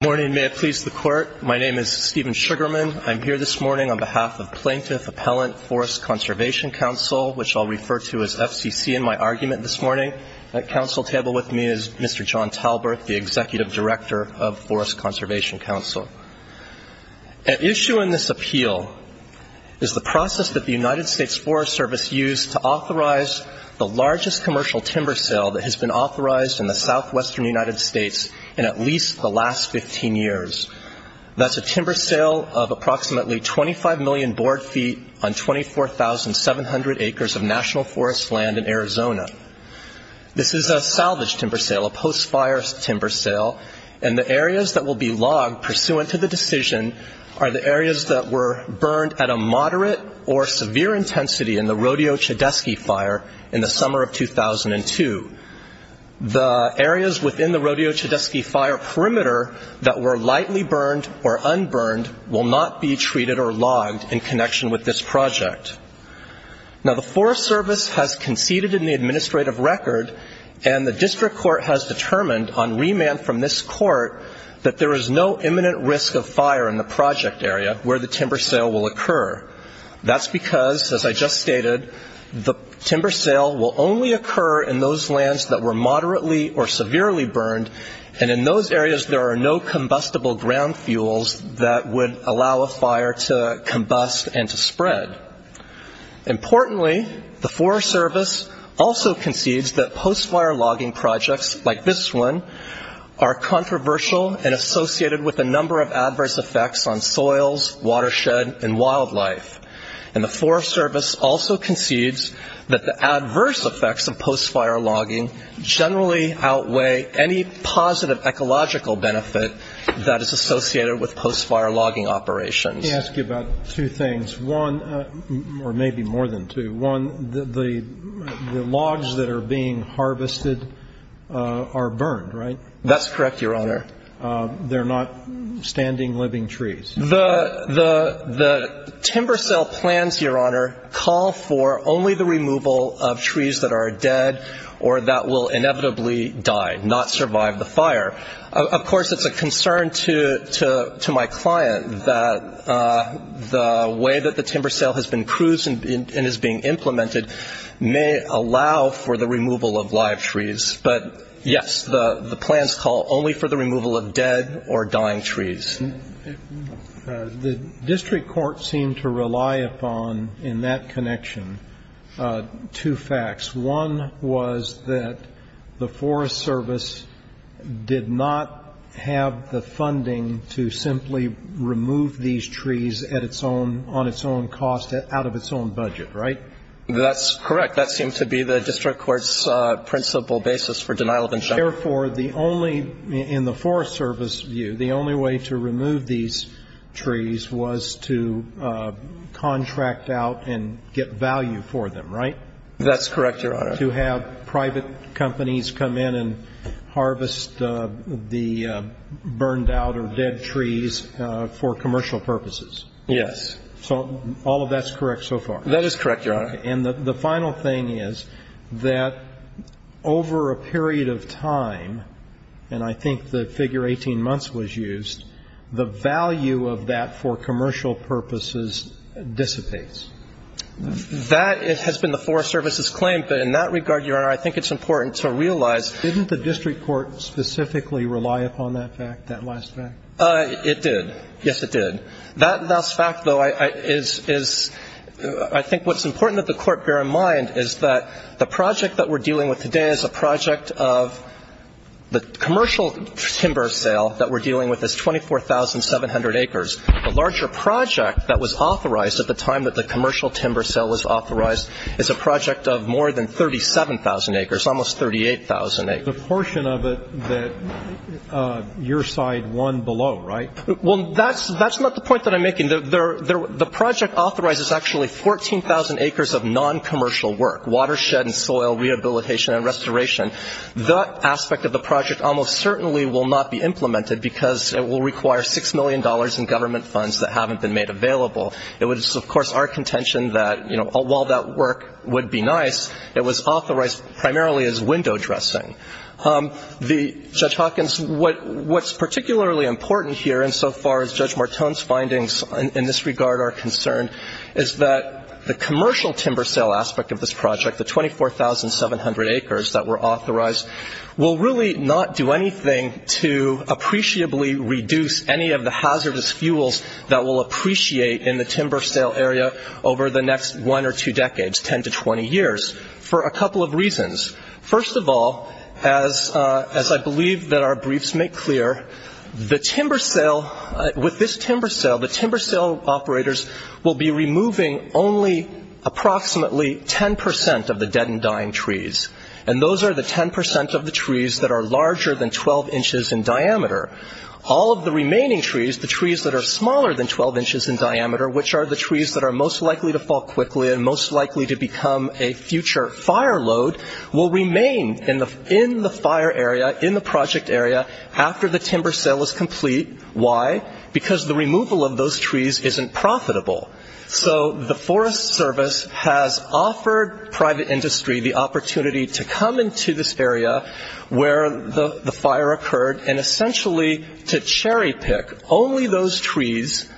Morning. May it please the Court. My name is Stephen Sugarman. I'm here this morning on behalf of Plaintiff Appellant Forest Conservation Council, which I'll refer to as FCC in my argument this morning. At council table with me is Mr. John Talbert, the Executive Director of Forest Conservation Council. An issue in this appeal is the process that the United States Forest Service used to authorize the largest commercial timber sale that has been authorized in the southwestern United States in at least the last 15 years. That's a timber sale of approximately 25 million board feet on 24,700 acres of national forest land in Arizona. This is a salvage timber sale, a post-fire timber sale, and the areas that will be logged pursuant to the decision are the areas that were burned at a moderate or severe intensity in the Rodeo Chedesky Fire in the summer of 2002. The areas within the Rodeo Chedesky Fire perimeter that were lightly burned or unburned will not be treated or logged in connection with this project. Now, the Forest Service has conceded in the administrative record and the district court has determined on remand from this court that there is no imminent risk of fire in the project area where the timber sale will occur. That's because, as I just stated, the timber sale will only occur in those lands that were moderately or severely burned and in those areas there are no combustible ground fuels that would allow a fire to combust and to spread. Importantly, the Forest Service also concedes that post-fire logging projects like this one are controversial and associated with a number of adverse effects on soils, watershed, and wildlife. And the Forest Service also concedes that the adverse effects of post-fire logging generally outweigh any positive ecological benefit that is associated with post-fire logging operations. Let me ask you about two things. One, or maybe more than two, one, the logs that are being harvested are burned, right? That's correct, Your Honor. They're not standing living trees? The timber sale plans, Your Honor, call for only the removal of trees that are dead or that will inevitably die, not survive the fire. Of course, it's a concern to my client that the way that the timber sale has been cruised and is being implemented may allow for the removal of live trees. But, yes, the plans call only for the removal of dead or dying trees. The district court seemed to rely upon, in that connection, two facts. One was that the Forest Service did not have the funding to simply remove these trees at its own, on its own cost, out of its own budget, right? That's correct. That seemed to be the district court's principle basis for denial of injunction. Therefore, the only, in the Forest Service view, the only way to remove these trees was to contract out and get value for them, right? That's correct, Your Honor. To have private companies come in and harvest the burned out or dead trees for commercial purposes. Yes. So all of that's correct so far? That is correct, Your Honor. And the final thing is that over a period of time, and I think the figure 18 months was used, the value of that for commercial purposes dissipates. That has been the Forest Service's claim, but in that regard, Your Honor, I think it's important to realize. Didn't the district court specifically rely upon that fact, that last fact? Well, I think what the court bear in mind is that the project that we're dealing with today is a project of the commercial timber sale that we're dealing with is 24,700 acres. The larger project that was authorized at the time that the commercial timber sale was authorized is a project of more than 37,000 acres, almost 38,000 acres. The portion of it that your side won below, right? Well, that's not the point that I'm making. The project authorizes actually 14,000 acres of noncommercial work, watershed and soil rehabilitation and restoration. That aspect of the project almost certainly will not be implemented because it will require $6 million in government funds that haven't been made available. It was, of course, our contention that, you know, while that work would be nice, it was authorized primarily as window dressing. Judge Hawkins, what's particularly important here insofar as Judge Martone's findings in this regard are concerned is that the commercial timber sale aspect of this project, the 24,700 acres that were authorized, will really not do anything to appreciably reduce any of the hazardous fuels that we'll appreciate in the timber sale area over the next one or two decades, 10 to 20 years, for a couple of reasons. First of all, as I believe that our briefs make clear, with this timber sale, the timber sale operators will be removing only approximately 10 percent of the dead and dying trees, and those are the 10 percent of the trees that are larger than 12 inches in diameter. All of the remaining trees, the trees that are smaller than 12 inches in diameter, which are the trees that are most likely to fall quickly and most likely to become a future fire load, will remain in the fire area, in the project area, after the timber sale is complete. Why? Because the removal of those trees isn't profitable. So the Forest Service has offered private industry the opportunity to come into this area where the fire occurred and essentially to cherry pick only those trees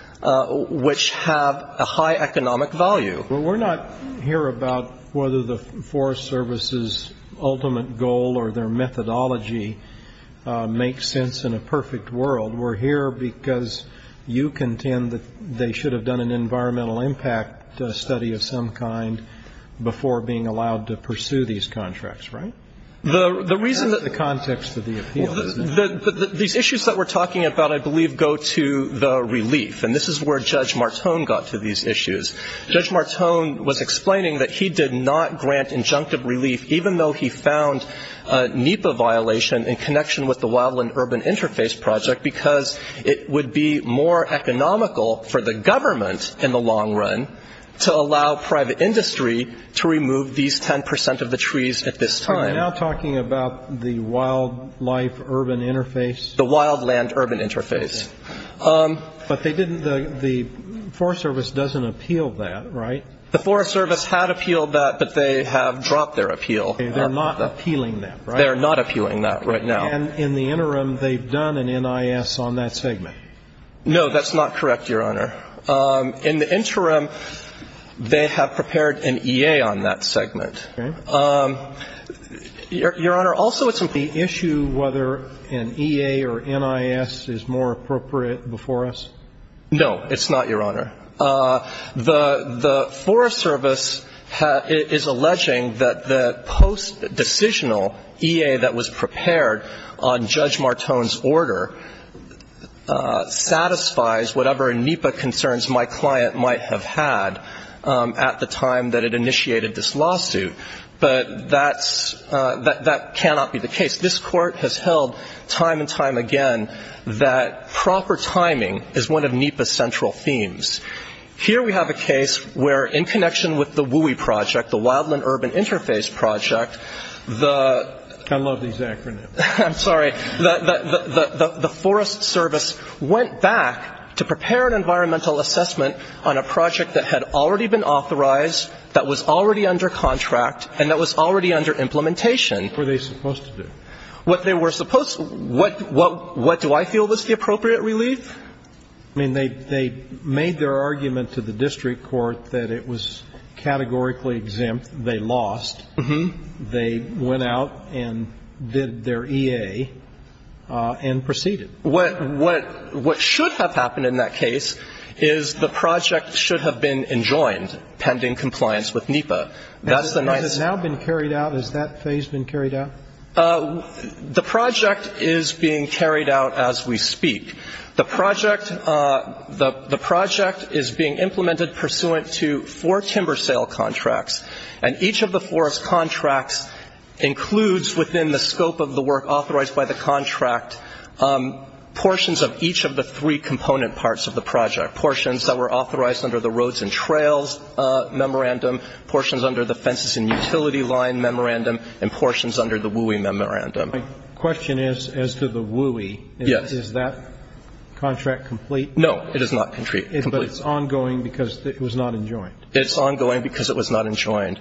which have a high economic value. Well, we're not here about whether the Forest Service's ultimate goal or their methodology makes sense in a perfect world. We're here because you contend that they should have done an environmental impact study of some kind before being allowed to pursue these contracts, right? That's the context of the appeal. These issues that we're talking about, I believe, go to the relief, and this is where Judge Martone got to these issues. Judge Martone was explaining that he did not grant injunctive relief, even though he found a NEPA violation in connection with the Wildland Urban Interface Project, because it would be more economical for the government in the long run to allow private industry to remove these 10 percent of the trees at this time. You're now talking about the Wildlife Urban Interface? The Wildland Urban Interface. But the Forest Service doesn't appeal that, right? The Forest Service had appealed that, but they have dropped their appeal. They're not appealing that, right? They're not appealing that right now. And in the interim, they've done an NIS on that segment? No, that's not correct, Your Honor. In the interim, they have prepared an EA on that segment. Your Honor, also, isn't the issue whether an EA or NIS is more appropriate before us? No, it's not, Your Honor. The Forest Service is alleging that the post-decisional EA that was prepared on Judge Martone's order satisfies whatever NEPA concerns my client might have had at the time that it initiated this lawsuit. But that cannot be the case. This Court has held time and time again that proper timing is one of NEPA's central themes. Here we have a case where, in connection with the WUE project, the Wildland Urban Interface Project, the ‑‑ I love these acronyms. I'm sorry. The Forest Service went back to prepare an environmental assessment on a project that had already been authorized, that was already under contract, and that was already under implementation. What were they supposed to do? What they were supposed ‑‑ what do I feel was the appropriate relief? I mean, they made their argument to the district court that it was categorically exempt. They lost. Uh-huh. They went out and did their EA and proceeded. What should have happened in that case is the project should have been enjoined pending compliance with NEPA. Has that now been carried out? Has that phase been carried out? The project is being carried out as we speak. The project is being implemented pursuant to four timber sale contracts, and each of the four contracts includes within the scope of the work authorized by the contract portions of each of the three component parts of the project, portions that were authorized under the Roads and Trails Memorandum, portions under the Fences and Utility Line Memorandum, and portions under the WUE Memorandum. My question is, as to the WUE, is that contract complete? No, it is not complete. But it's ongoing because it was not enjoined? It's ongoing because it was not enjoined.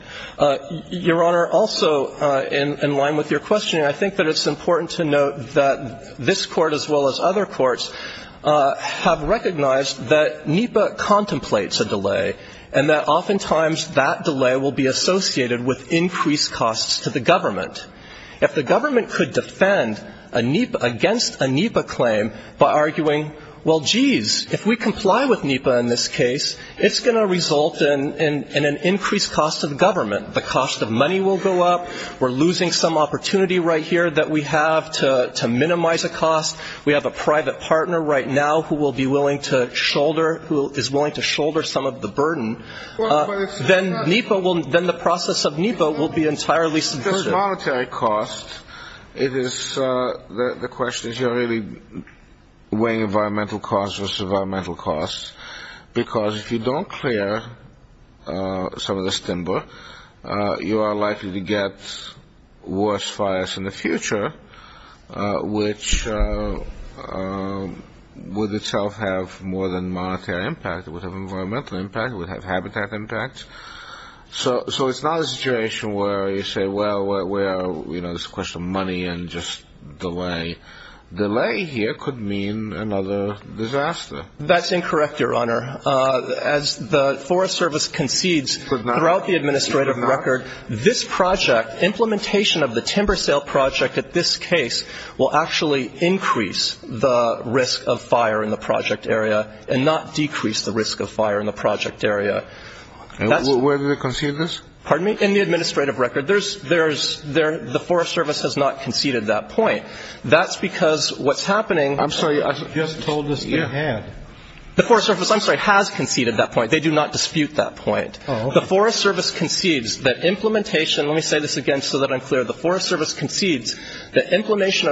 Your Honor, also in line with your question, I think that it's important to note that this Court as well as other courts have recognized that NEPA contemplates a delay and that oftentimes that delay will be associated with increased costs to the government. If the government could defend against a NEPA claim by arguing, well, jeez, if we comply with NEPA in this case, it's going to result in an increased cost to the government. The cost of money will go up. We're losing some opportunity right here that we have to minimize a cost. We have a private partner right now who is willing to shoulder some of the burden. Then the process of NEPA will be entirely sufficient. It's not just monetary cost. The question is you're really weighing environmental costs versus environmental costs because if you don't clear some of this timber, you are likely to get worse fires in the future, which would itself have more than monetary impact. It would have environmental impact. It would have habitat impact. So it's not a situation where you say, well, there's a question of money and just delay. Delay here could mean another disaster. That's incorrect, Your Honor. As the Forest Service concedes throughout the administrative record, this project, implementation of the timber sale project at this case, will actually increase the risk of fire in the project area and not decrease the risk of fire in the project area. Where do they concede this? Pardon me? In the administrative record. The Forest Service has not conceded that point. That's because what's happening – I'm sorry. I just told this at hand. The Forest Service, I'm sorry, has conceded that point. They do not dispute that point. The Forest Service concedes that implementation – let me say this again so that I'm clear. The Forest Service concedes that implementation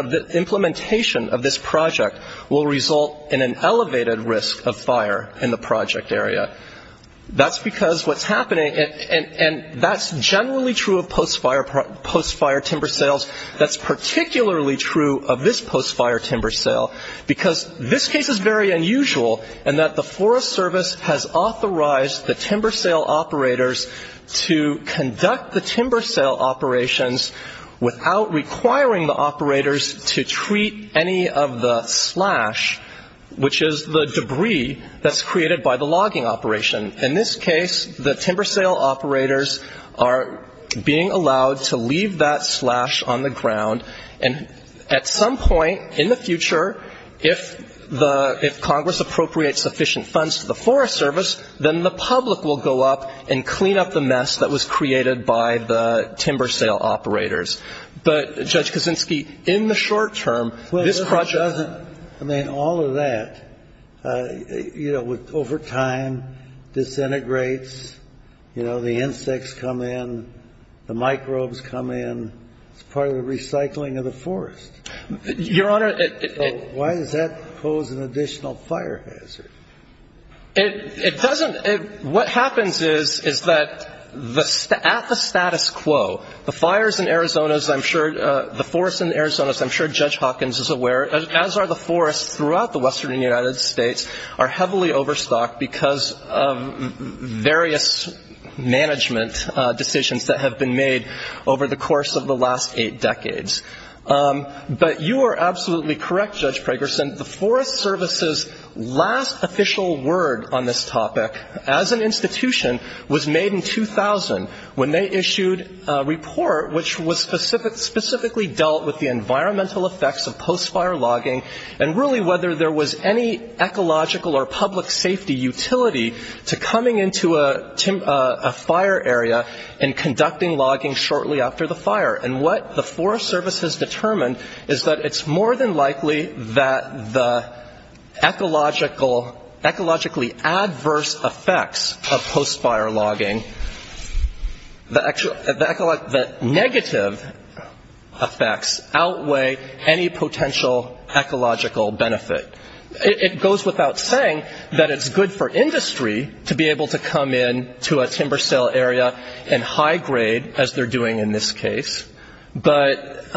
of this project will result in an elevated risk of fire in the project area. That's because what's happening – and that's generally true of post-fire timber sales. That's particularly true of this post-fire timber sale, because this case is very unusual in that the Forest Service has authorized the timber sale operators to conduct the timber sale operations without requiring the operators to treat any of the slash, which is the debris that's created by the logging operation. In this case, the timber sale operators are being allowed to leave that slash on the ground. And at some point in the future, if Congress appropriates sufficient funds to the Forest Service, then the public will go up and clean up the mess that was created by the timber sale operators. But, Judge Kaczynski, in the short term, this project – all of that, you know, over time disintegrates. You know, the insects come in. The microbes come in. It's part of the recycling of the forest. Your Honor, it – So why does that pose an additional fire hazard? It doesn't – what happens is, is that at the status quo, the fires in Arizona, as I'm sure – and throughout the western United States are heavily overstocked because of various management decisions that have been made over the course of the last eight decades. But you are absolutely correct, Judge Pragerson, the Forest Service's last official word on this topic as an institution was made in 2000, when they issued a report which was specifically dealt with the environmental effects of post-fire logging and really whether there was any ecological or public safety utility to coming into a fire area and conducting logging shortly after the fire. And what the Forest Service has determined is that it's more than likely that the ecological – the negative effects outweigh any potential ecological benefit. It goes without saying that it's good for industry to be able to come in to a timber sale area and high-grade, as they're doing in this case. But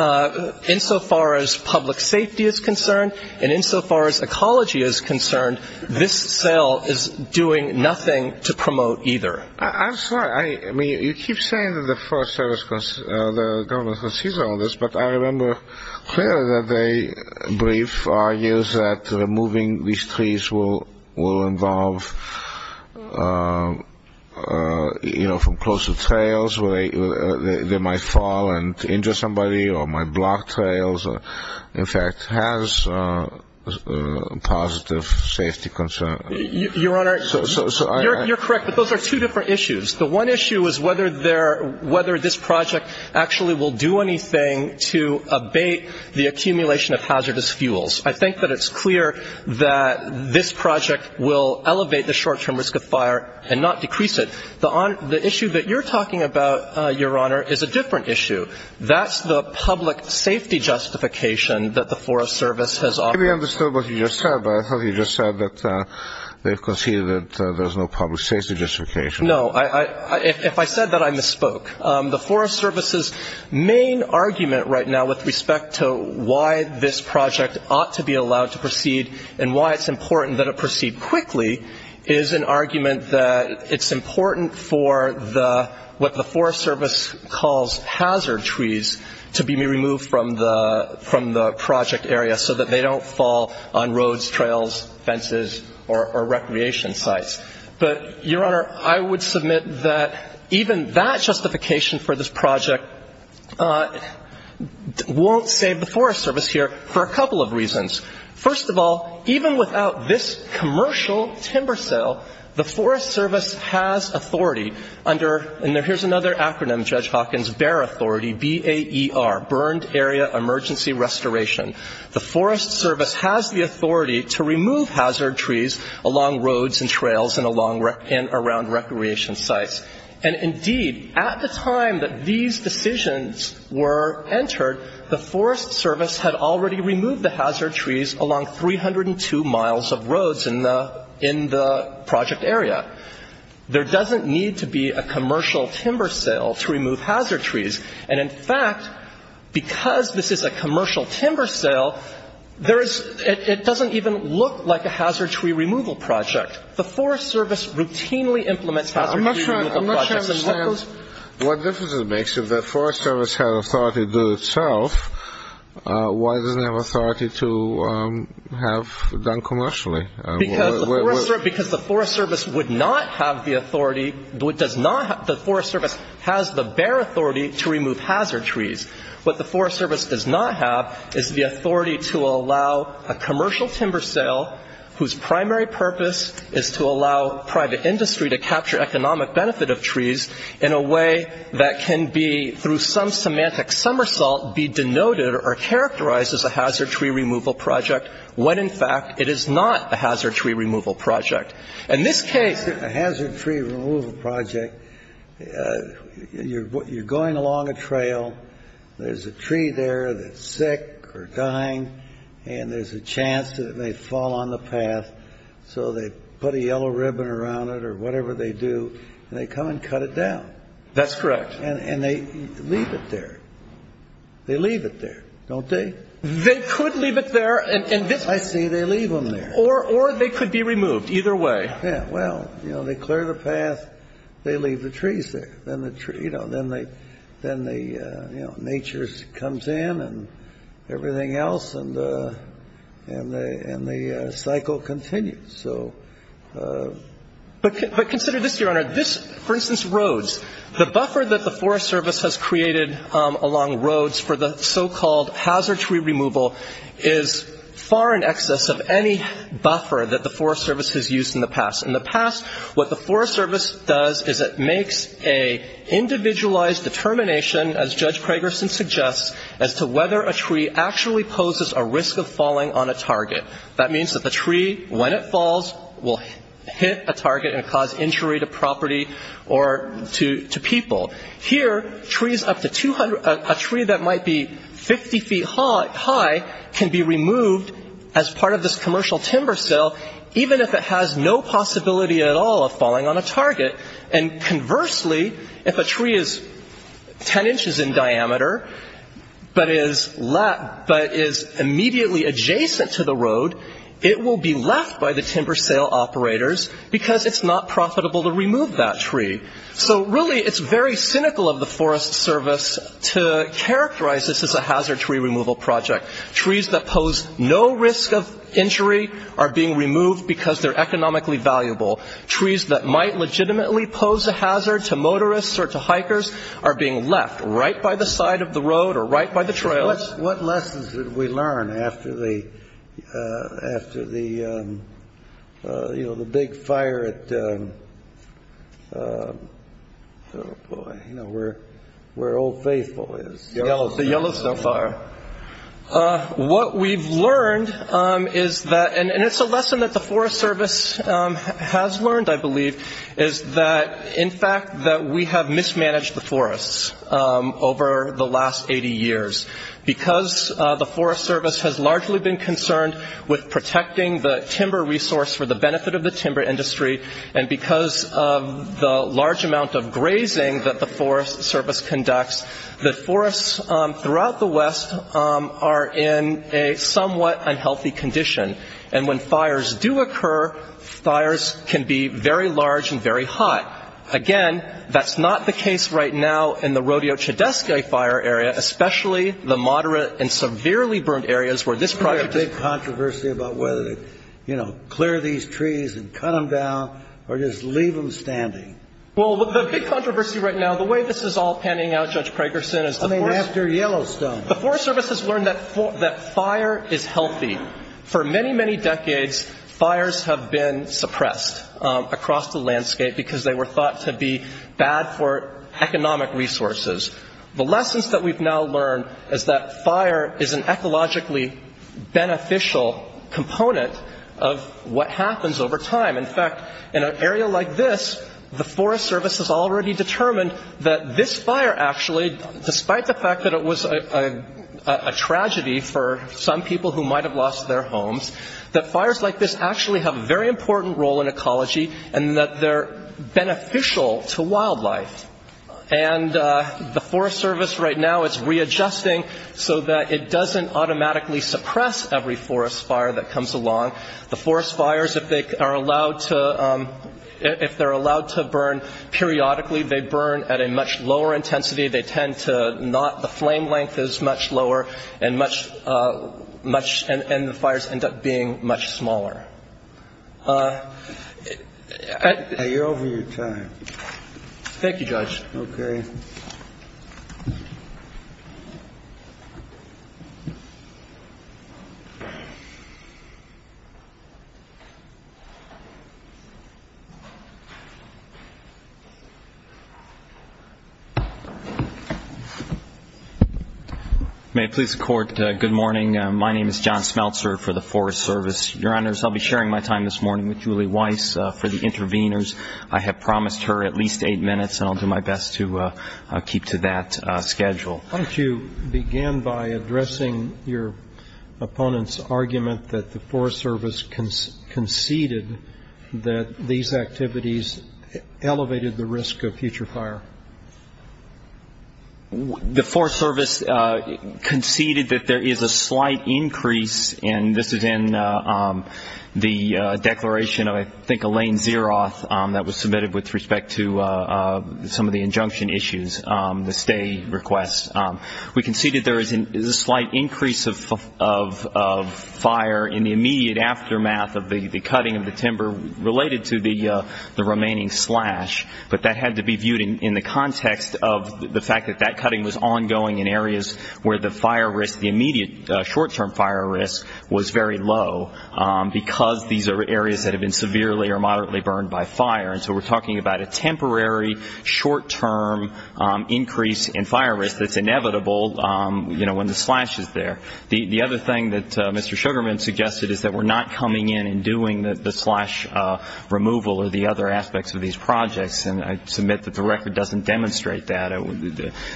insofar as public safety is concerned and insofar as ecology is concerned, this sale is doing nothing to promote either. I'm sorry. I mean, you keep saying that the Forest Service – the government sees all this, but I remember clearly that the brief argues that removing these trees will involve, you know, from closer trails where they might fall and injure somebody or might block trails or, in fact, has a positive safety concern. Your Honor, you're correct, but those are two different issues. The one issue is whether this project actually will do anything to abate the accumulation of hazardous fuels. I think that it's clear that this project will elevate the short-term risk of fire and not decrease it. The issue that you're talking about, Your Honor, is a different issue. That's the public safety justification that the Forest Service has offered. Maybe I understood what you just said, but I thought you just said that they've conceded that there's no public safety justification. No. If I said that, I misspoke. The Forest Service's main argument right now with respect to why this project ought to be allowed to proceed and why it's important that it proceed quickly is an argument that it's important for what the Forest Service calls hazard trees to be removed from the project area so that they don't fall on roads, trails, fences or recreation sites. But, Your Honor, I would submit that even that justification for this project won't save the Forest Service here for a couple of reasons. First of all, even without this commercial timber sale, the Forest Service has authority under and here's another acronym, Judge Hawkins, BEAR authority, B-A-E-R, Burned Area Emergency Restoration. The Forest Service has the authority to remove hazard trees along roads and trails and around recreation sites. And, indeed, at the time that these decisions were entered, the Forest Service had already removed the hazard trees along 302 miles of roads in the project area. There doesn't need to be a commercial timber sale to remove hazard trees. And, in fact, because this is a commercial timber sale, it doesn't even look like a hazard tree removal project. The Forest Service routinely implements hazard tree removal projects. I'm not sure I understand what difference it makes. If the Forest Service has authority to do it itself, why doesn't it have authority to have it done commercially? Because the Forest Service would not have the authority. The Forest Service has the BEAR authority to remove hazard trees. What the Forest Service does not have is the authority to allow a commercial timber sale whose primary purpose is to allow private industry to capture economic benefit of trees in a way that can be, through some semantic somersault, be denoted or characterized as a hazard tree removal project when, in fact, it is not a hazard tree removal project. In this case, a hazard tree removal project, you're going along a trail. There's a tree there that's sick or dying, and there's a chance that it may fall on the path. So they put a yellow ribbon around it or whatever they do, and they come and cut it down. That's correct. And they leave it there. They leave it there, don't they? They could leave it there. I see. They leave them there. Or they could be removed, either way. Yeah. Well, you know, they clear the path. They leave the trees there. Then the tree, you know, then the nature comes in and everything else, and the cycle continues. But consider this, Your Honor. This, for instance, roads. The buffer that the Forest Service has created along roads for the so-called hazard tree removal is far in excess of any buffer that the Forest Service has used in the past. In the past, what the Forest Service does is it makes an individualized determination, as Judge Kragerson suggests, as to whether a tree actually poses a risk of falling on a target. That means that the tree, when it falls, will hit a target and cause injury to property or to people. Here, a tree that might be 50 feet high can be removed as part of this commercial timber sale, even if it has no possibility at all of falling on a target. And conversely, if a tree is 10 inches in diameter but is immediately adjacent to the road, it will be left by the timber sale operators because it's not profitable to remove that tree. So really it's very cynical of the Forest Service to characterize this as a hazard tree removal project. Trees that pose no risk of injury are being removed because they're economically valuable. Trees that might legitimately pose a hazard to motorists or to hikers are being left right by the side of the road or right by the trail. What lessons did we learn after the big fire at, oh boy, where Old Faithful is? The Yellowstone fire. What we've learned is that, and it's a lesson that the Forest Service has learned, I believe, is that, in fact, that we have mismanaged the forests over the last 80 years. Because the Forest Service has largely been concerned with protecting the timber resource for the benefit of the timber industry and because of the large amount of grazing that the Forest Service conducts, the forests throughout the West are in a somewhat unhealthy condition. And when fires do occur, fires can be very large and very hot. Again, that's not the case right now in the Rodeo Chedesca fire area, especially the moderate and severely burned areas where this project is. There's a big controversy about whether to, you know, clear these trees and cut them down or just leave them standing. Well, the big controversy right now, the way this is all panning out, Judge Pragerson, is the Forest Service. I mean, after Yellowstone. The Forest Service has learned that fire is healthy. For many, many decades, fires have been suppressed across the landscape because they were thought to be bad for economic resources. The lessons that we've now learned is that fire is an ecologically beneficial component of what happens over time. In fact, in an area like this, the Forest Service has already determined that this fire actually, despite the fact that it was a tragedy for some people who might have lost their homes, that fires like this actually have a very important role in ecology and that they're beneficial to wildlife. And the Forest Service right now is readjusting so that it doesn't automatically suppress every forest fire that comes along. The forest fires, if they are allowed to burn periodically, they burn at a much lower intensity. They tend to not the flame length is much lower and much, much, and the fires end up being much smaller. You're over your time. Thank you, Judge. Okay. May it please the Court, good morning. My name is John Smeltzer for the Forest Service. Your Honors, I'll be sharing my time this morning with Julie Weiss for the interveners. I have promised her at least eight minutes, and I'll do my best to keep to that schedule. Why don't you begin by addressing your opponent's argument that the Forest Service conceded that these activities elevated the risk of future fire? The Forest Service conceded that there is a slight increase, and this is in the declaration of I think Elaine Zeroth that was submitted with respect to some of the injunction issues, the stay requests. We conceded there is a slight increase of fire in the immediate aftermath of the cutting of the timber related to the remaining slash, but that had to be viewed in the context of the fact that that cutting was ongoing in areas where the fire risk, the immediate short-term fire risk was very low because these are areas that have been severely or moderately burned by fire. And so we're talking about a temporary short-term increase in fire risk that's inevitable when the slash is there. The other thing that Mr. Sugarman suggested is that we're not coming in and doing the slash removal or the other aspects of these projects, and I submit that the record doesn't demonstrate that.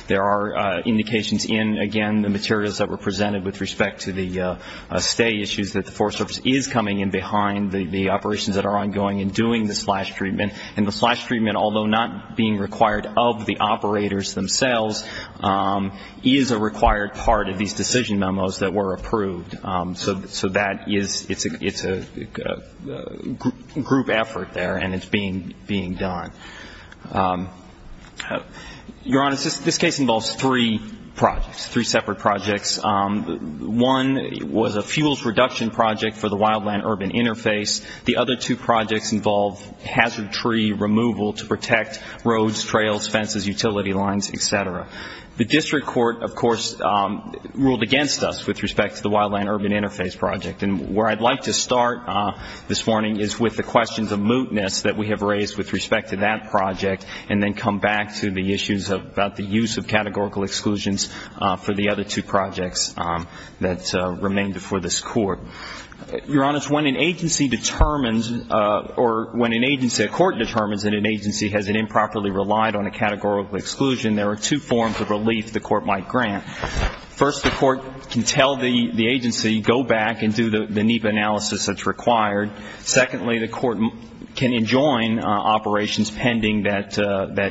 There are indications in, again, the materials that were presented with respect to the stay issues that the Forest Service is coming in behind the operations that are ongoing and doing the slash treatment, and the slash treatment, although not being required of the operators themselves, is a required part of these decision memos that were approved. So that is a group effort there, and it's being done. Your Honor, this case involves three projects, three separate projects. One was a fuels reduction project for the wildland urban interface. The other two projects involve hazard tree removal to protect roads, trails, fences, utility lines, et cetera. The district court, of course, ruled against us with respect to the wildland urban interface project, and where I'd like to start this morning is with the questions of mootness that we have raised with respect to that project and then come back to the issues about the use of categorical exclusions for the other two projects that remain before this court. Your Honor, when an agency determines or when an agency, a court determines that an agency has improperly relied on a categorical exclusion, there are two forms of relief the court might grant. First, the court can tell the agency, go back and do the NEPA analysis that's required. Secondly, the court can enjoin operations pending that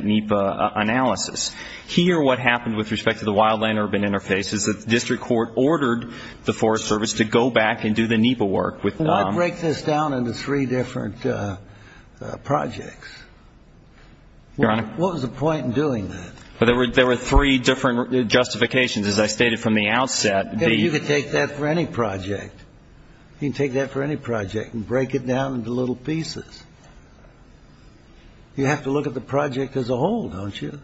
NEPA analysis. Here, what happened with respect to the wildland urban interface is that the district court ordered the Forest Service to go back and do the NEPA work. Why break this down into three different projects? Your Honor? What was the point in doing that? There were three different justifications. As I stated from the outset, the ---- You could take that for any project. You can take that for any project and break it down into little pieces. You have to look at the project as a whole, don't you?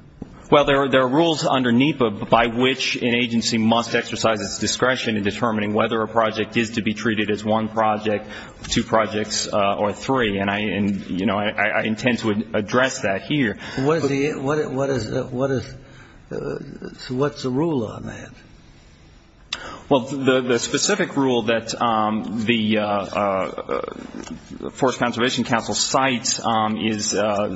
Well, there are rules under NEPA by which an agency must exercise its discretion in determining whether a project is to be treated as one project, two projects, or three, and I intend to address that here. What is the rule on that? Well, the specific rule that the Forest Conservation Council cites is 40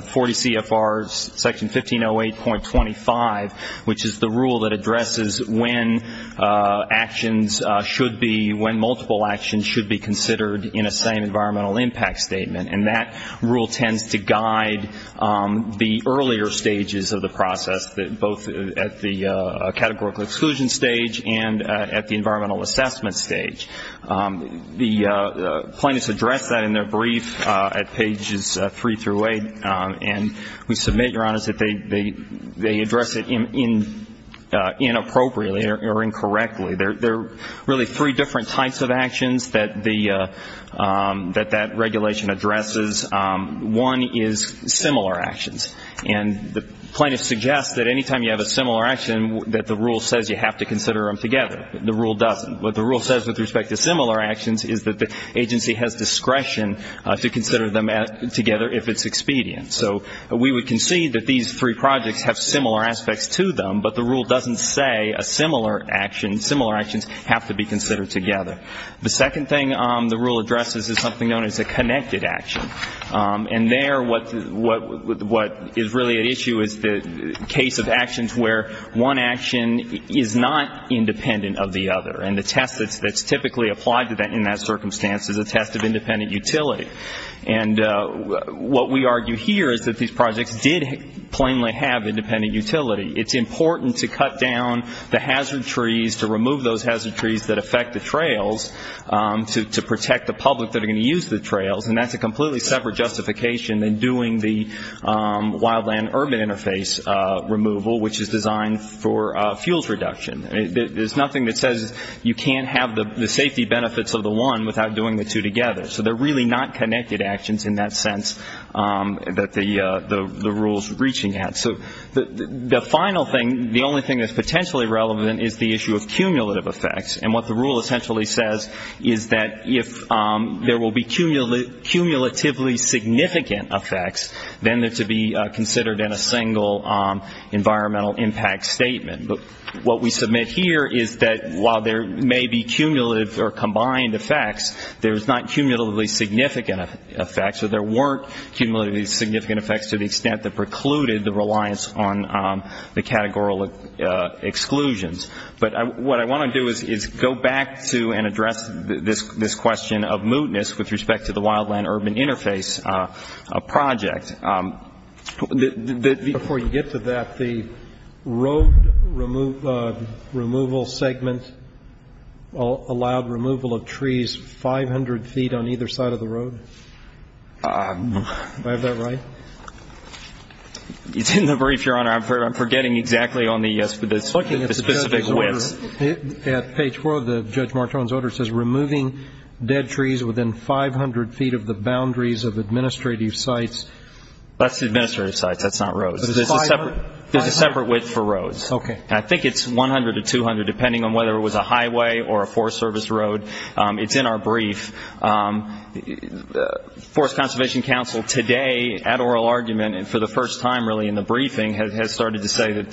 CFR section 1508.25, which is the rule that addresses when actions should be, when multiple actions should be considered in a same environmental impact statement, and that rule tends to guide the earlier stages of the process, both at the categorical exclusion stage and at the environmental assessment stage. The plaintiffs address that in their brief at pages three through eight, and we submit, Your Honor, that they address it inappropriately or incorrectly. There are really three different types of actions that that regulation addresses. One is similar actions, and the plaintiffs suggest that any time you have a similar action that the rule says you have to consider them together. The rule doesn't. What the rule says with respect to similar actions is that the agency has discretion to consider them together if it's expedient. So we would concede that these three projects have similar aspects to them, but the rule doesn't say a similar action, similar actions have to be considered together. The second thing the rule addresses is something known as a connected action, and there what is really at issue is the case of actions where one action is not independent of the other, and the test that's typically applied in that circumstance is a test of independent utility. And what we argue here is that these projects did plainly have independent utility. It's important to cut down the hazard trees, to remove those hazard trees that affect the trails, to protect the public that are going to use the trails, and that's a completely separate justification than doing the wildland urban interface removal, which is designed for fuels reduction. There's nothing that says you can't have the safety benefits of the one without doing the two together. So they're really not connected actions in that sense that the rule's reaching at. So the final thing, the only thing that's potentially relevant is the issue of cumulative effects, and what the rule essentially says is that if there will be cumulatively significant effects, then they're to be considered in a single environmental impact statement. But what we submit here is that while there may be cumulative or combined effects, there's not cumulatively significant effects, so there weren't cumulatively significant effects to the extent that precluded the reliance on the categorical exclusions. But what I want to do is go back to and address this question of mootness with respect to the wildland urban interface project. Before you get to that, the road removal segment allowed removal of trees 500 feet on either side of the road. Do I have that right? It's in the brief, Your Honor. I'm forgetting exactly on the specific width. At page 4 of Judge Martone's order, it says, removing dead trees within 500 feet of the boundaries of administrative sites. That's the administrative sites. That's not roads. There's a separate width for roads. Okay. I think it's 100 to 200, depending on whether it was a highway or a Forest Service road. It's in our brief. Forest Conservation Council today, at oral argument and for the first time really in the briefing, has started to say that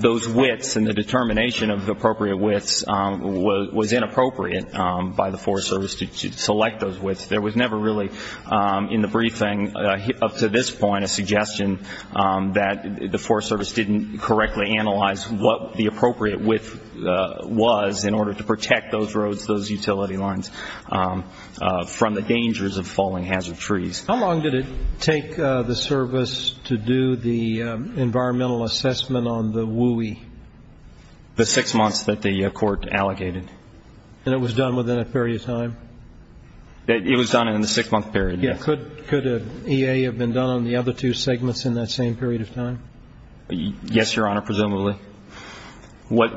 those widths and the determination of the appropriate widths was inappropriate by the Forest Service to select those widths. There was never really, in the briefing up to this point, a suggestion that the Forest Service didn't correctly analyze what the appropriate width was in order to protect those roads, those utility lines, from the dangers of falling hazard trees. How long did it take the Service to do the environmental assessment on the WUE? The six months that the Court allocated. And it was done within a period of time? It was done in the six-month period, yes. Could an EA have been done on the other two segments in that same period of time? Yes, Your Honor, presumably. What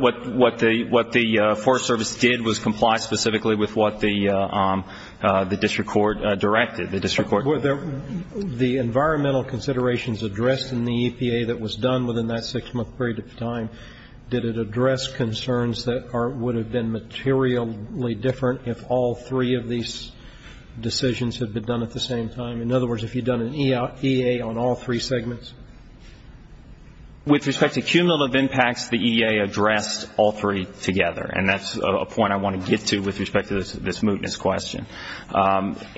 the Forest Service did was comply specifically with what the district court directed. The environmental considerations addressed in the EPA that was done within that six-month period of time, did it address concerns that would have been materially different if all three of these decisions had been done at the same time? In other words, if you'd done an EA on all three segments? With respect to cumulative impacts, the EA addressed all three together, and that's a point I want to get to with respect to this mootness question.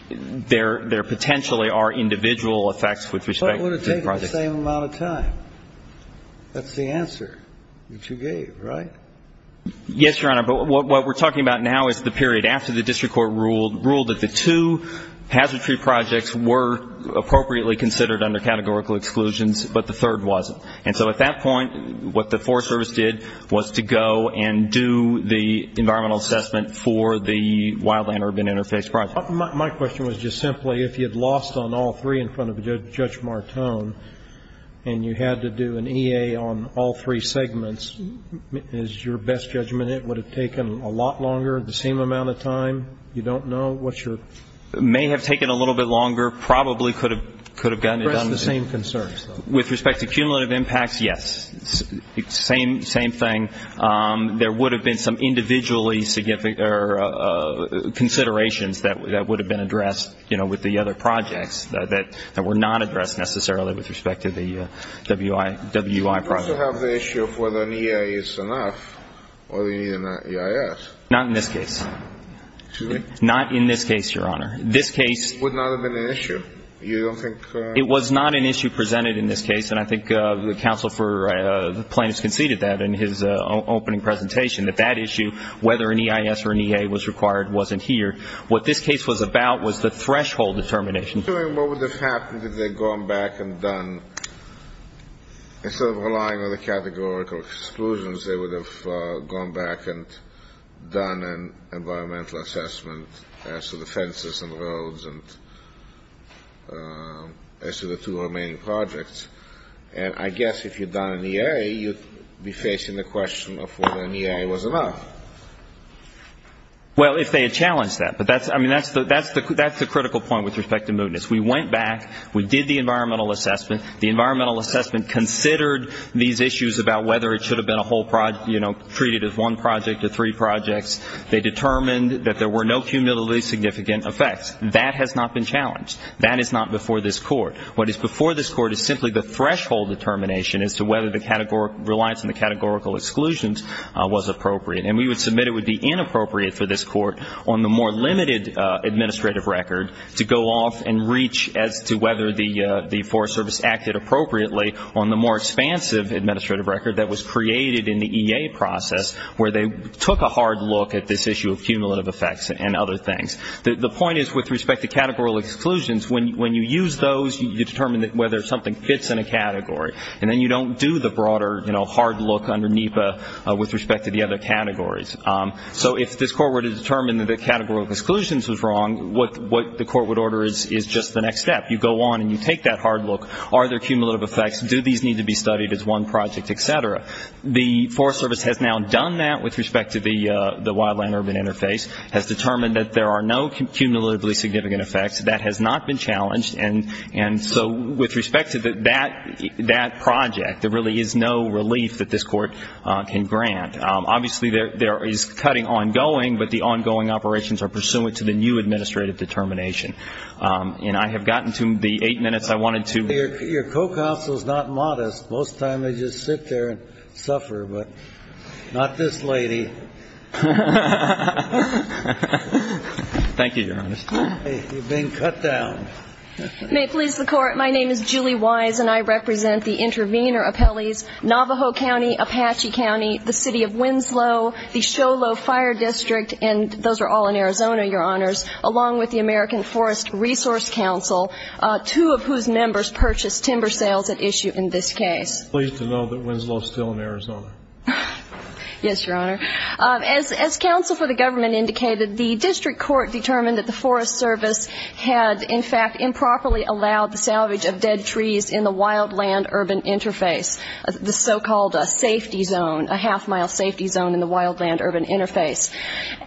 There potentially are individual effects with respect to the projects. But it would have taken the same amount of time. That's the answer that you gave, right? Yes, Your Honor, but what we're talking about now is the period after the district court ruled that the two hazard tree projects were appropriately considered under categorical exclusions, but the third wasn't. And so at that point, what the Forest Service did was to go and do the environmental assessment for the wildland urban interface project. My question was just simply, if you had lost on all three in front of Judge Martone and you had to do an EA on all three segments, is your best judgment it would have taken a lot longer, the same amount of time? You don't know? It may have taken a little bit longer, probably could have gotten it done. Addressed the same concerns, though. With respect to cumulative impacts, yes. Same thing. There would have been some individually significant considerations that would have been addressed, you know, with the other projects that were not addressed necessarily with respect to the WI project. You also have the issue of whether an EA is enough or the EIS. Not in this case. Excuse me? Not in this case, Your Honor. This case would not have been an issue. You don't think? It was not an issue presented in this case, and I think the counsel for the plaintiffs conceded that in his opening presentation, that that issue, whether an EIS or an EA was required, wasn't here. What this case was about was the threshold determination. What would have happened if they had gone back and done, instead of relying on the categorical exclusions, they would have gone back and done an environmental assessment as to the fences and roads and as to the two remaining projects. And I guess if you'd done an EA, you'd be facing the question of whether an EA was enough. Well, if they had challenged that. But that's the critical point with respect to mootness. We went back. We did the environmental assessment. The environmental assessment considered these issues about whether it should have been a whole project, you know, treated as one project or three projects. They determined that there were no cumulatively significant effects. That has not been challenged. That is not before this court. What is before this court is simply the threshold determination as to whether the categorical reliance on the categorical exclusions was appropriate. And we would submit it would be inappropriate for this court on the more limited administrative record to go off and reach as to whether the Forest Service acted appropriately on the more expansive administrative record that was created in the EA process, where they took a hard look at this issue of cumulative effects and other things. The point is, with respect to categorical exclusions, when you use those, you determine whether something fits in a category. And then you don't do the broader, you know, hard look under NEPA with respect to the other categories. So if this court were to determine that the categorical exclusions was wrong, what the court would order is just the next step. You go on and you take that hard look. Are there cumulative effects? Do these need to be studied as one project, et cetera? The Forest Service has now done that with respect to the wildland-urban interface, has determined that there are no cumulatively significant effects. That has not been challenged. And so with respect to that project, there really is no relief that this court can grant. Obviously, there is cutting ongoing, but the ongoing operations are pursuant to the new administrative determination. And I have gotten to the eight minutes I wanted to. Your co-counsel is not modest. Most of the time they just sit there and suffer, but not this lady. Thank you, Your Honor. You've been cut down. May it please the Court, my name is Julie Wise, and I represent the intervener appellees, Navajo County, Apache County, the City of Winslow, the Show Low Fire District, and those are all in Arizona, Your Honors, along with the American Forest Resource Council, two of whose members purchased timber sales at issue in this case. Pleased to know that Winslow is still in Arizona. Yes, Your Honor. As counsel for the government indicated, the district court determined that the Forest Service had, in fact, improperly allowed the salvage of dead trees in the wildland-urban interface, the so-called safety zone, a half-mile safety zone in the wildland-urban interface.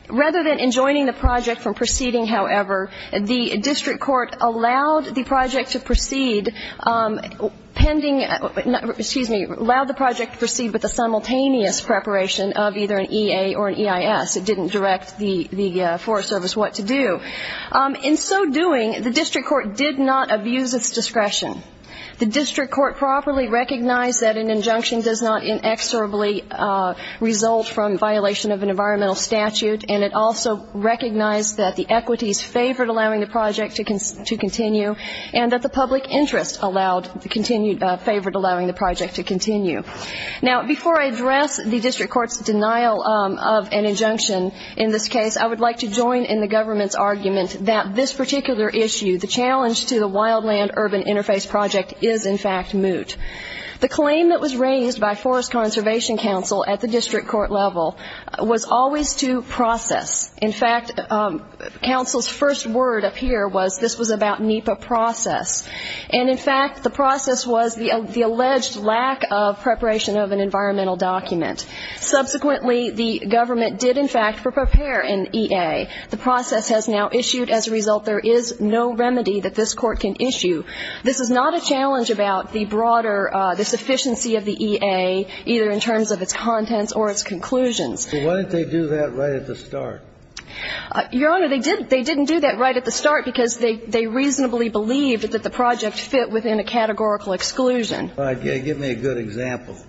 Rather than enjoining the project from proceeding, however, the district court allowed the project to proceed with a simultaneous preparation of either an EA or an EIS. It didn't direct the Forest Service what to do. In so doing, the district court did not abuse its discretion. The district court properly recognized that an injunction does not inexorably result from violation of an environmental statute, and it also recognized that the equities favored allowing the project to continue and that the public interest favored allowing the project to continue. Now, before I address the district court's denial of an injunction in this case, I would like to join in the government's argument that this particular issue, the challenge to the wildland-urban interface project, is, in fact, moot. The claim that was raised by Forest Conservation Council at the district court level was always to process. In fact, counsel's first word up here was this was about NEPA process, and, in fact, the process was the alleged lack of preparation of an environmental document. Subsequently, the government did, in fact, prepare an EA. The process has now issued. As a result, there is no remedy that this Court can issue. This is not a challenge about the broader, the sufficiency of the EA, either in terms of its contents or its conclusions. But why didn't they do that right at the start? Your Honor, they didn't do that right at the start because they reasonably believed that the project fit within a categorical exclusion. All right. Give me a good example of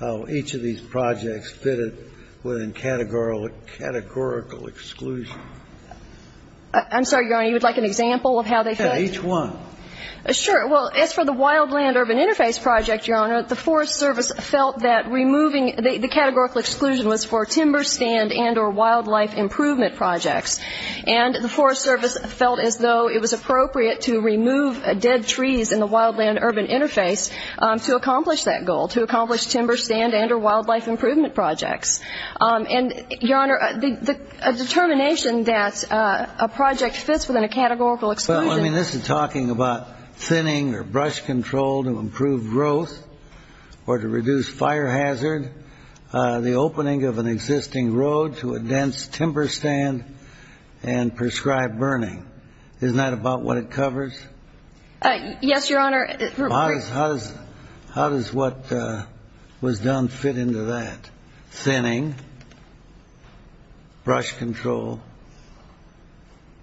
how each of these projects fitted within categorical exclusion. I'm sorry, Your Honor. You would like an example of how they fit? Yeah, each one. Sure. Well, as for the wildland-urban interface project, Your Honor, the Forest Service felt that removing the categorical exclusion was for timber stand and or wildlife improvement projects. And the Forest Service felt as though it was appropriate to remove dead trees in the wildland-urban interface to accomplish that goal, to accomplish timber stand and or wildlife improvement projects. And, Your Honor, the determination that a project fits within a categorical exclusion. Well, I mean, this is talking about thinning or brush control to improve growth or to reduce fire hazard, the opening of an existing road to a dense timber stand and prescribed burning. Isn't that about what it covers? Yes, Your Honor. How does what was done fit into that? Thinning, brush control?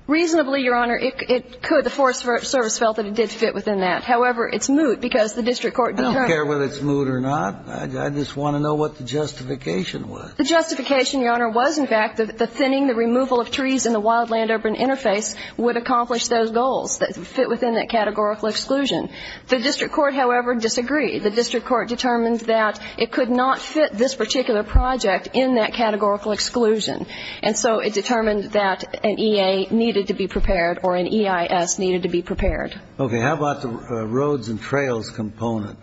Reasonably, Your Honor, it could. The Forest Service felt that it did fit within that. However, it's moot because the district court determined that. I don't care whether it's moot or not. I just want to know what the justification was. The justification, Your Honor, was, in fact, that the thinning, the removal of trees in the wildland-urban interface would accomplish those goals that fit within that categorical exclusion. The district court, however, disagreed. The district court determined that it could not fit this particular project in that categorical exclusion. And so it determined that an EA needed to be prepared or an EIS needed to be prepared. Okay. How about the roads and trails component?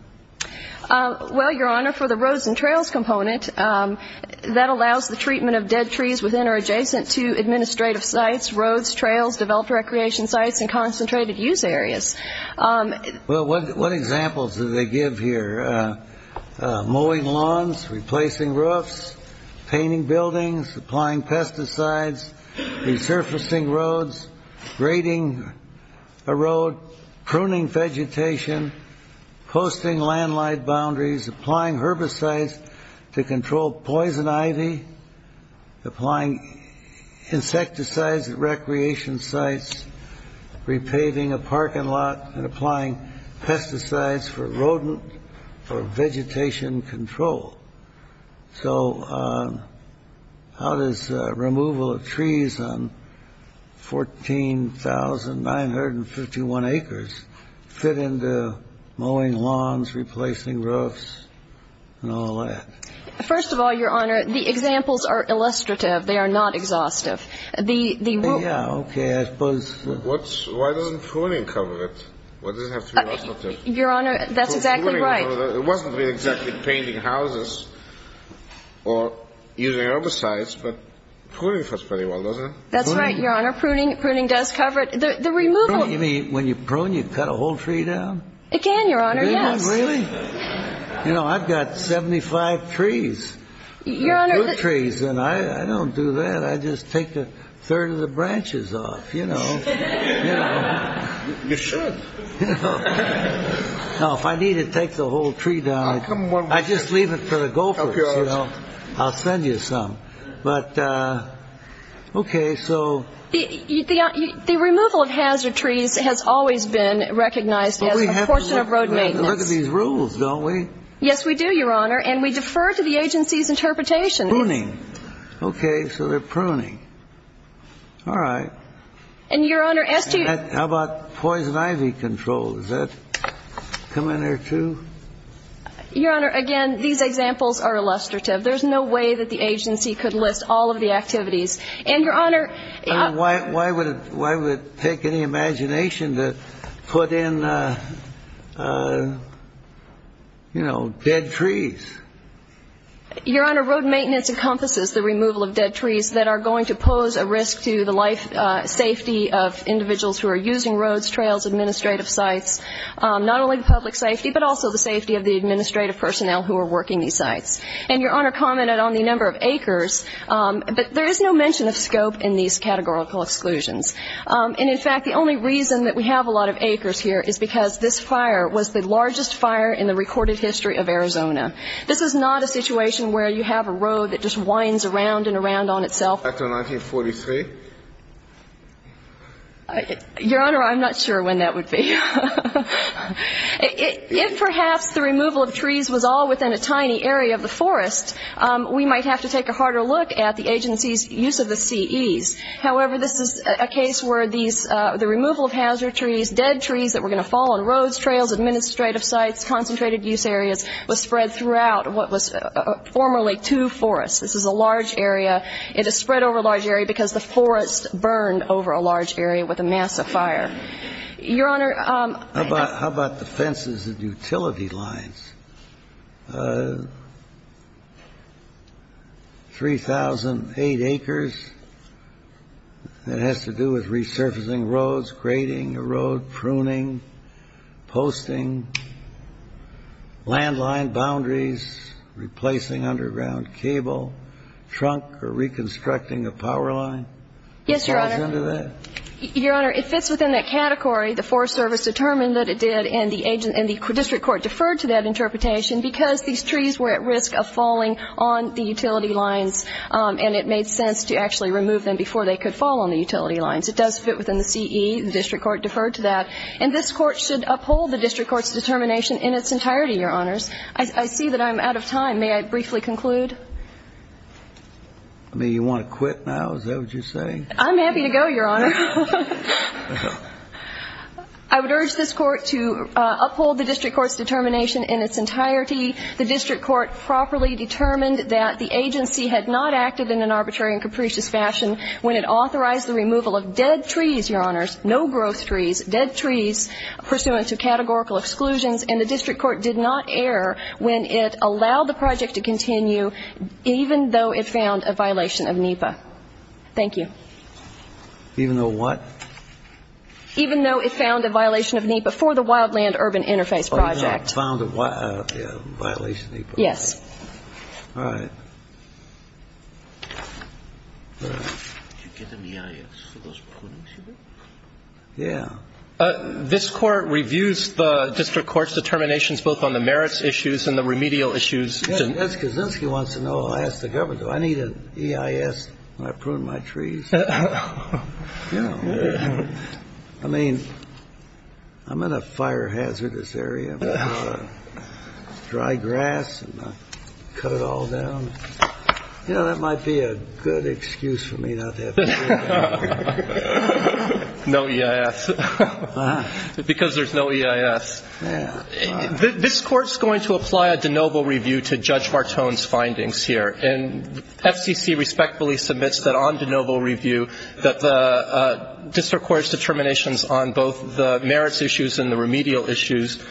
Well, Your Honor, for the roads and trails component, that allows the treatment of dead trees within or adjacent to administrative sites, roads, trails, developed recreation sites, and concentrated use areas. Well, what examples do they give here? Mowing lawns, replacing roofs, painting buildings, applying pesticides, resurfacing roads, grading a road, pruning vegetation, posting landline boundaries, applying herbicides to control poison ivy, applying insecticides at recreation sites, repaving a parking lot, and applying pesticides for rodent or vegetation control. So how does removal of trees on 14,951 acres fit into mowing lawns, replacing roofs, and all that? First of all, Your Honor, the examples are illustrative. They are not exhaustive. Yeah, okay. I suppose. Why doesn't pruning cover it? Why does it have to be illustrative? Your Honor, that's exactly right. It wasn't really exactly painting houses or using herbicides, but pruning fits pretty well, doesn't it? That's right, Your Honor. Pruning does cover it. The removal. You mean when you prune, you cut a whole tree down? It can, Your Honor, yes. Really? You know, I've got 75 trees. Your Honor. Two trees, and I don't do that. I just take a third of the branches off, you know. You should. You know, if I need to take the whole tree down, I just leave it for the gophers, you know. I'll send you some. But, okay, so. The removal of hazard trees has always been recognized as a portion of road maintenance. We look at these rules, don't we? Yes, we do, Your Honor, and we defer to the agency's interpretation. Pruning. Okay, so they're pruning. All right. And, Your Honor, as to... How about poison ivy control? Does that come in there, too? Your Honor, again, these examples are illustrative. There's no way that the agency could list all of the activities. And, Your Honor... You know, dead trees. Your Honor, road maintenance encompasses the removal of dead trees that are going to pose a risk to the life safety of individuals who are using roads, trails, administrative sites. Not only public safety, but also the safety of the administrative personnel who are working these sites. And Your Honor commented on the number of acres, but there is no mention of scope in these categorical exclusions. And, in fact, the only reason that we have a lot of acres here is because this fire was the largest fire in the recorded history of Arizona. This is not a situation where you have a road that just winds around and around on itself. Back to 1943? Your Honor, I'm not sure when that would be. If perhaps the removal of trees was all within a tiny area of the forest, we might have to take a harder look at the agency's use of the CEs. However, this is a case where the removal of hazard trees, dead trees that were going to fall on roads, trails, administrative sites, concentrated use areas, was spread throughout what was formerly two forests. This is a large area. It is spread over a large area because the forest burned over a large area with a massive fire. Your Honor... How about the fences and utility lines? Three thousand eight acres that has to do with resurfacing roads, grading a road, pruning, posting, landline boundaries, replacing underground cable, trunk, or reconstructing a power line? Yes, Your Honor. Falls into that? Your Honor, it fits within that category. The Forest Service determined that it did, and the district court deferred to that interpretation because these trees were at risk of falling on the utility lines, and it made sense to actually remove them before they could fall on the utility lines. It does fit within the CE. The district court deferred to that. And this Court should uphold the district court's determination in its entirety, Your Honors. I see that I'm out of time. May I briefly conclude? I mean, you want to quit now? Is that what you're saying? I'm happy to go, Your Honor. I would urge this Court to uphold the district court's determination in its entirety. The district court properly determined that the agency had not acted in an arbitrary and capricious fashion when it authorized the removal of dead trees, Your Honors, no-growth trees, dead trees pursuant to categorical exclusions, and the district court did not err when it allowed the project to continue, even though it found a violation of NEPA. Thank you. Even though what? Even though it found a violation of NEPA for the Wildland Urban Interface Project. Oh, yeah. Found a violation of NEPA. Yes. All right. Did you get an EIS for those prunings you did? Yeah. This Court reviews the district court's determinations both on the merits issues and the remedial issues. Yes, Kaczynski wants to know, I asked the Governor, do I need an EIS when I prune my trees? You know, I mean, I'm in a fire-hazardous area, dry grass, and I cut it all down. You know, that might be a good excuse for me not to have an EIS. No EIS. Because there's no EIS. This Court's going to apply a de novo review to Judge Martone's findings here, and FCC respectfully submits that on de novo review that the district court's determinations on both the merits issues and the remedial issues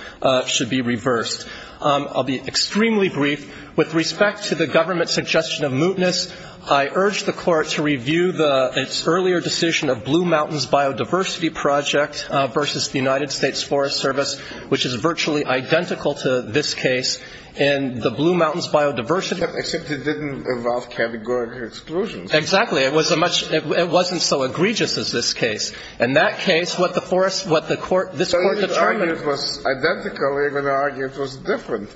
should be reversed. I'll be extremely brief. With respect to the government's suggestion of mootness, I urge the Court to review its earlier decision of Blue Mountains Biodiversity Project versus the United States Forest Service, which is virtually identical to this case in the Blue Mountains Biodiversity Project. Except it didn't involve categorical exclusions. Exactly. It was a much — it wasn't so egregious as this case. In that case, what the forest — what this Court determined — So you would argue it was identical, even argue it was different.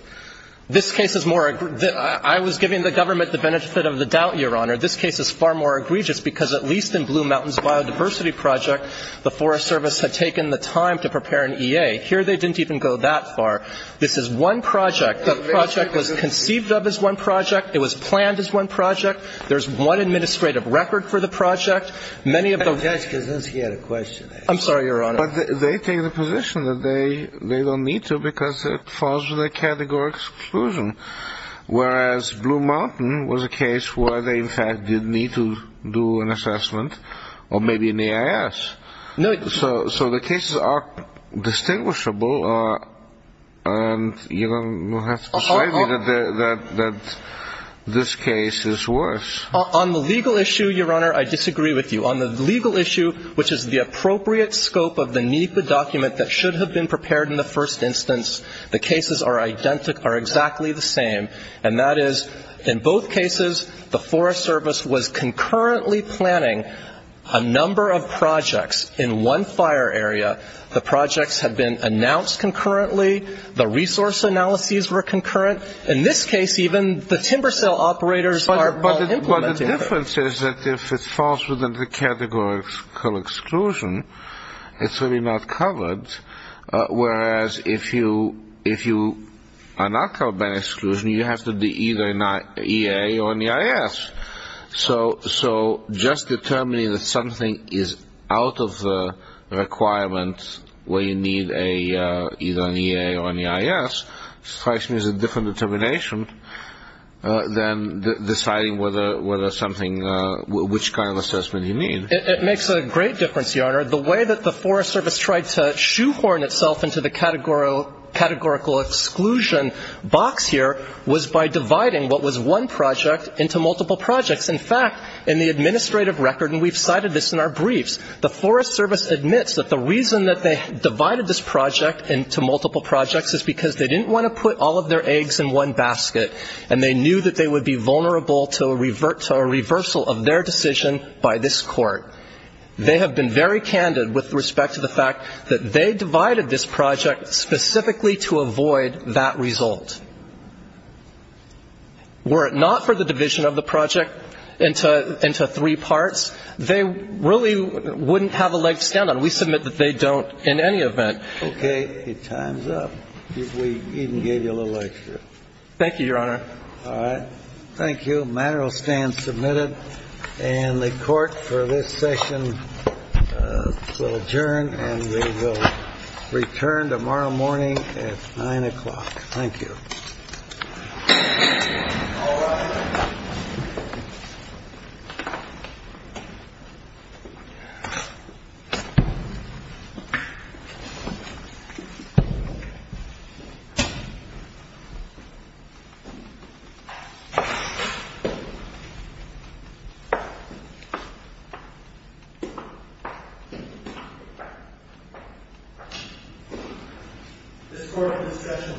This case is more — I was giving the government the benefit of the doubt, Your Honor. This case is far more egregious, because at least in Blue Mountains Biodiversity Project, the Forest Service had taken the time to prepare an EA. Here they didn't even go that far. This is one project. That project was conceived of as one project. It was planned as one project. There's one administrative record for the project. Many of the — That's because he had a question there. I'm sorry, Your Honor. But they take the position that they don't need to because it falls with a categorical exclusion, whereas Blue Mountain was a case where they, in fact, did need to do an assessment, or maybe an EIS. So the cases are distinguishable, and you don't have to persuade me that this case is worse. On the legal issue, Your Honor, I disagree with you. On the legal issue, which is the appropriate scope of the NEPA document that should have been prepared in the first instance, the cases are exactly the same, and that is, in both cases, the Forest Service was concurrently planning a number of projects in one fire area. The projects had been announced concurrently. The resource analyses were concurrent. In this case, even the timber sale operators are implementing it. But the difference is that if it falls within the categorical exclusion, it's really not covered, whereas if you are not covered by exclusion, you have to do either an EA or an EIS. So just determining that something is out of the requirement where you need either an EA or an EIS strikes me as a different determination than deciding which kind of assessment you need. And, Your Honor, the way that the Forest Service tried to shoehorn itself into the categorical exclusion box here was by dividing what was one project into multiple projects. In fact, in the administrative record, and we've cited this in our briefs, the Forest Service admits that the reason that they divided this project into multiple projects is because they didn't want to put all of their eggs in one basket, and they knew that they would be vulnerable to a reversal of their decision by this Court. They have been very candid with respect to the fact that they divided this project specifically to avoid that result. Were it not for the division of the project into three parts, they really wouldn't have a leg to stand on. We submit that they don't in any event. Okay. Your time is up. We even gave you a little extra. Thank you, Your Honor. All right. Thank you. The matter will stand submitted, and the Court for this session will adjourn, and we will return tomorrow morning at 9 o'clock. Thank you. This Court in this session is adjourned.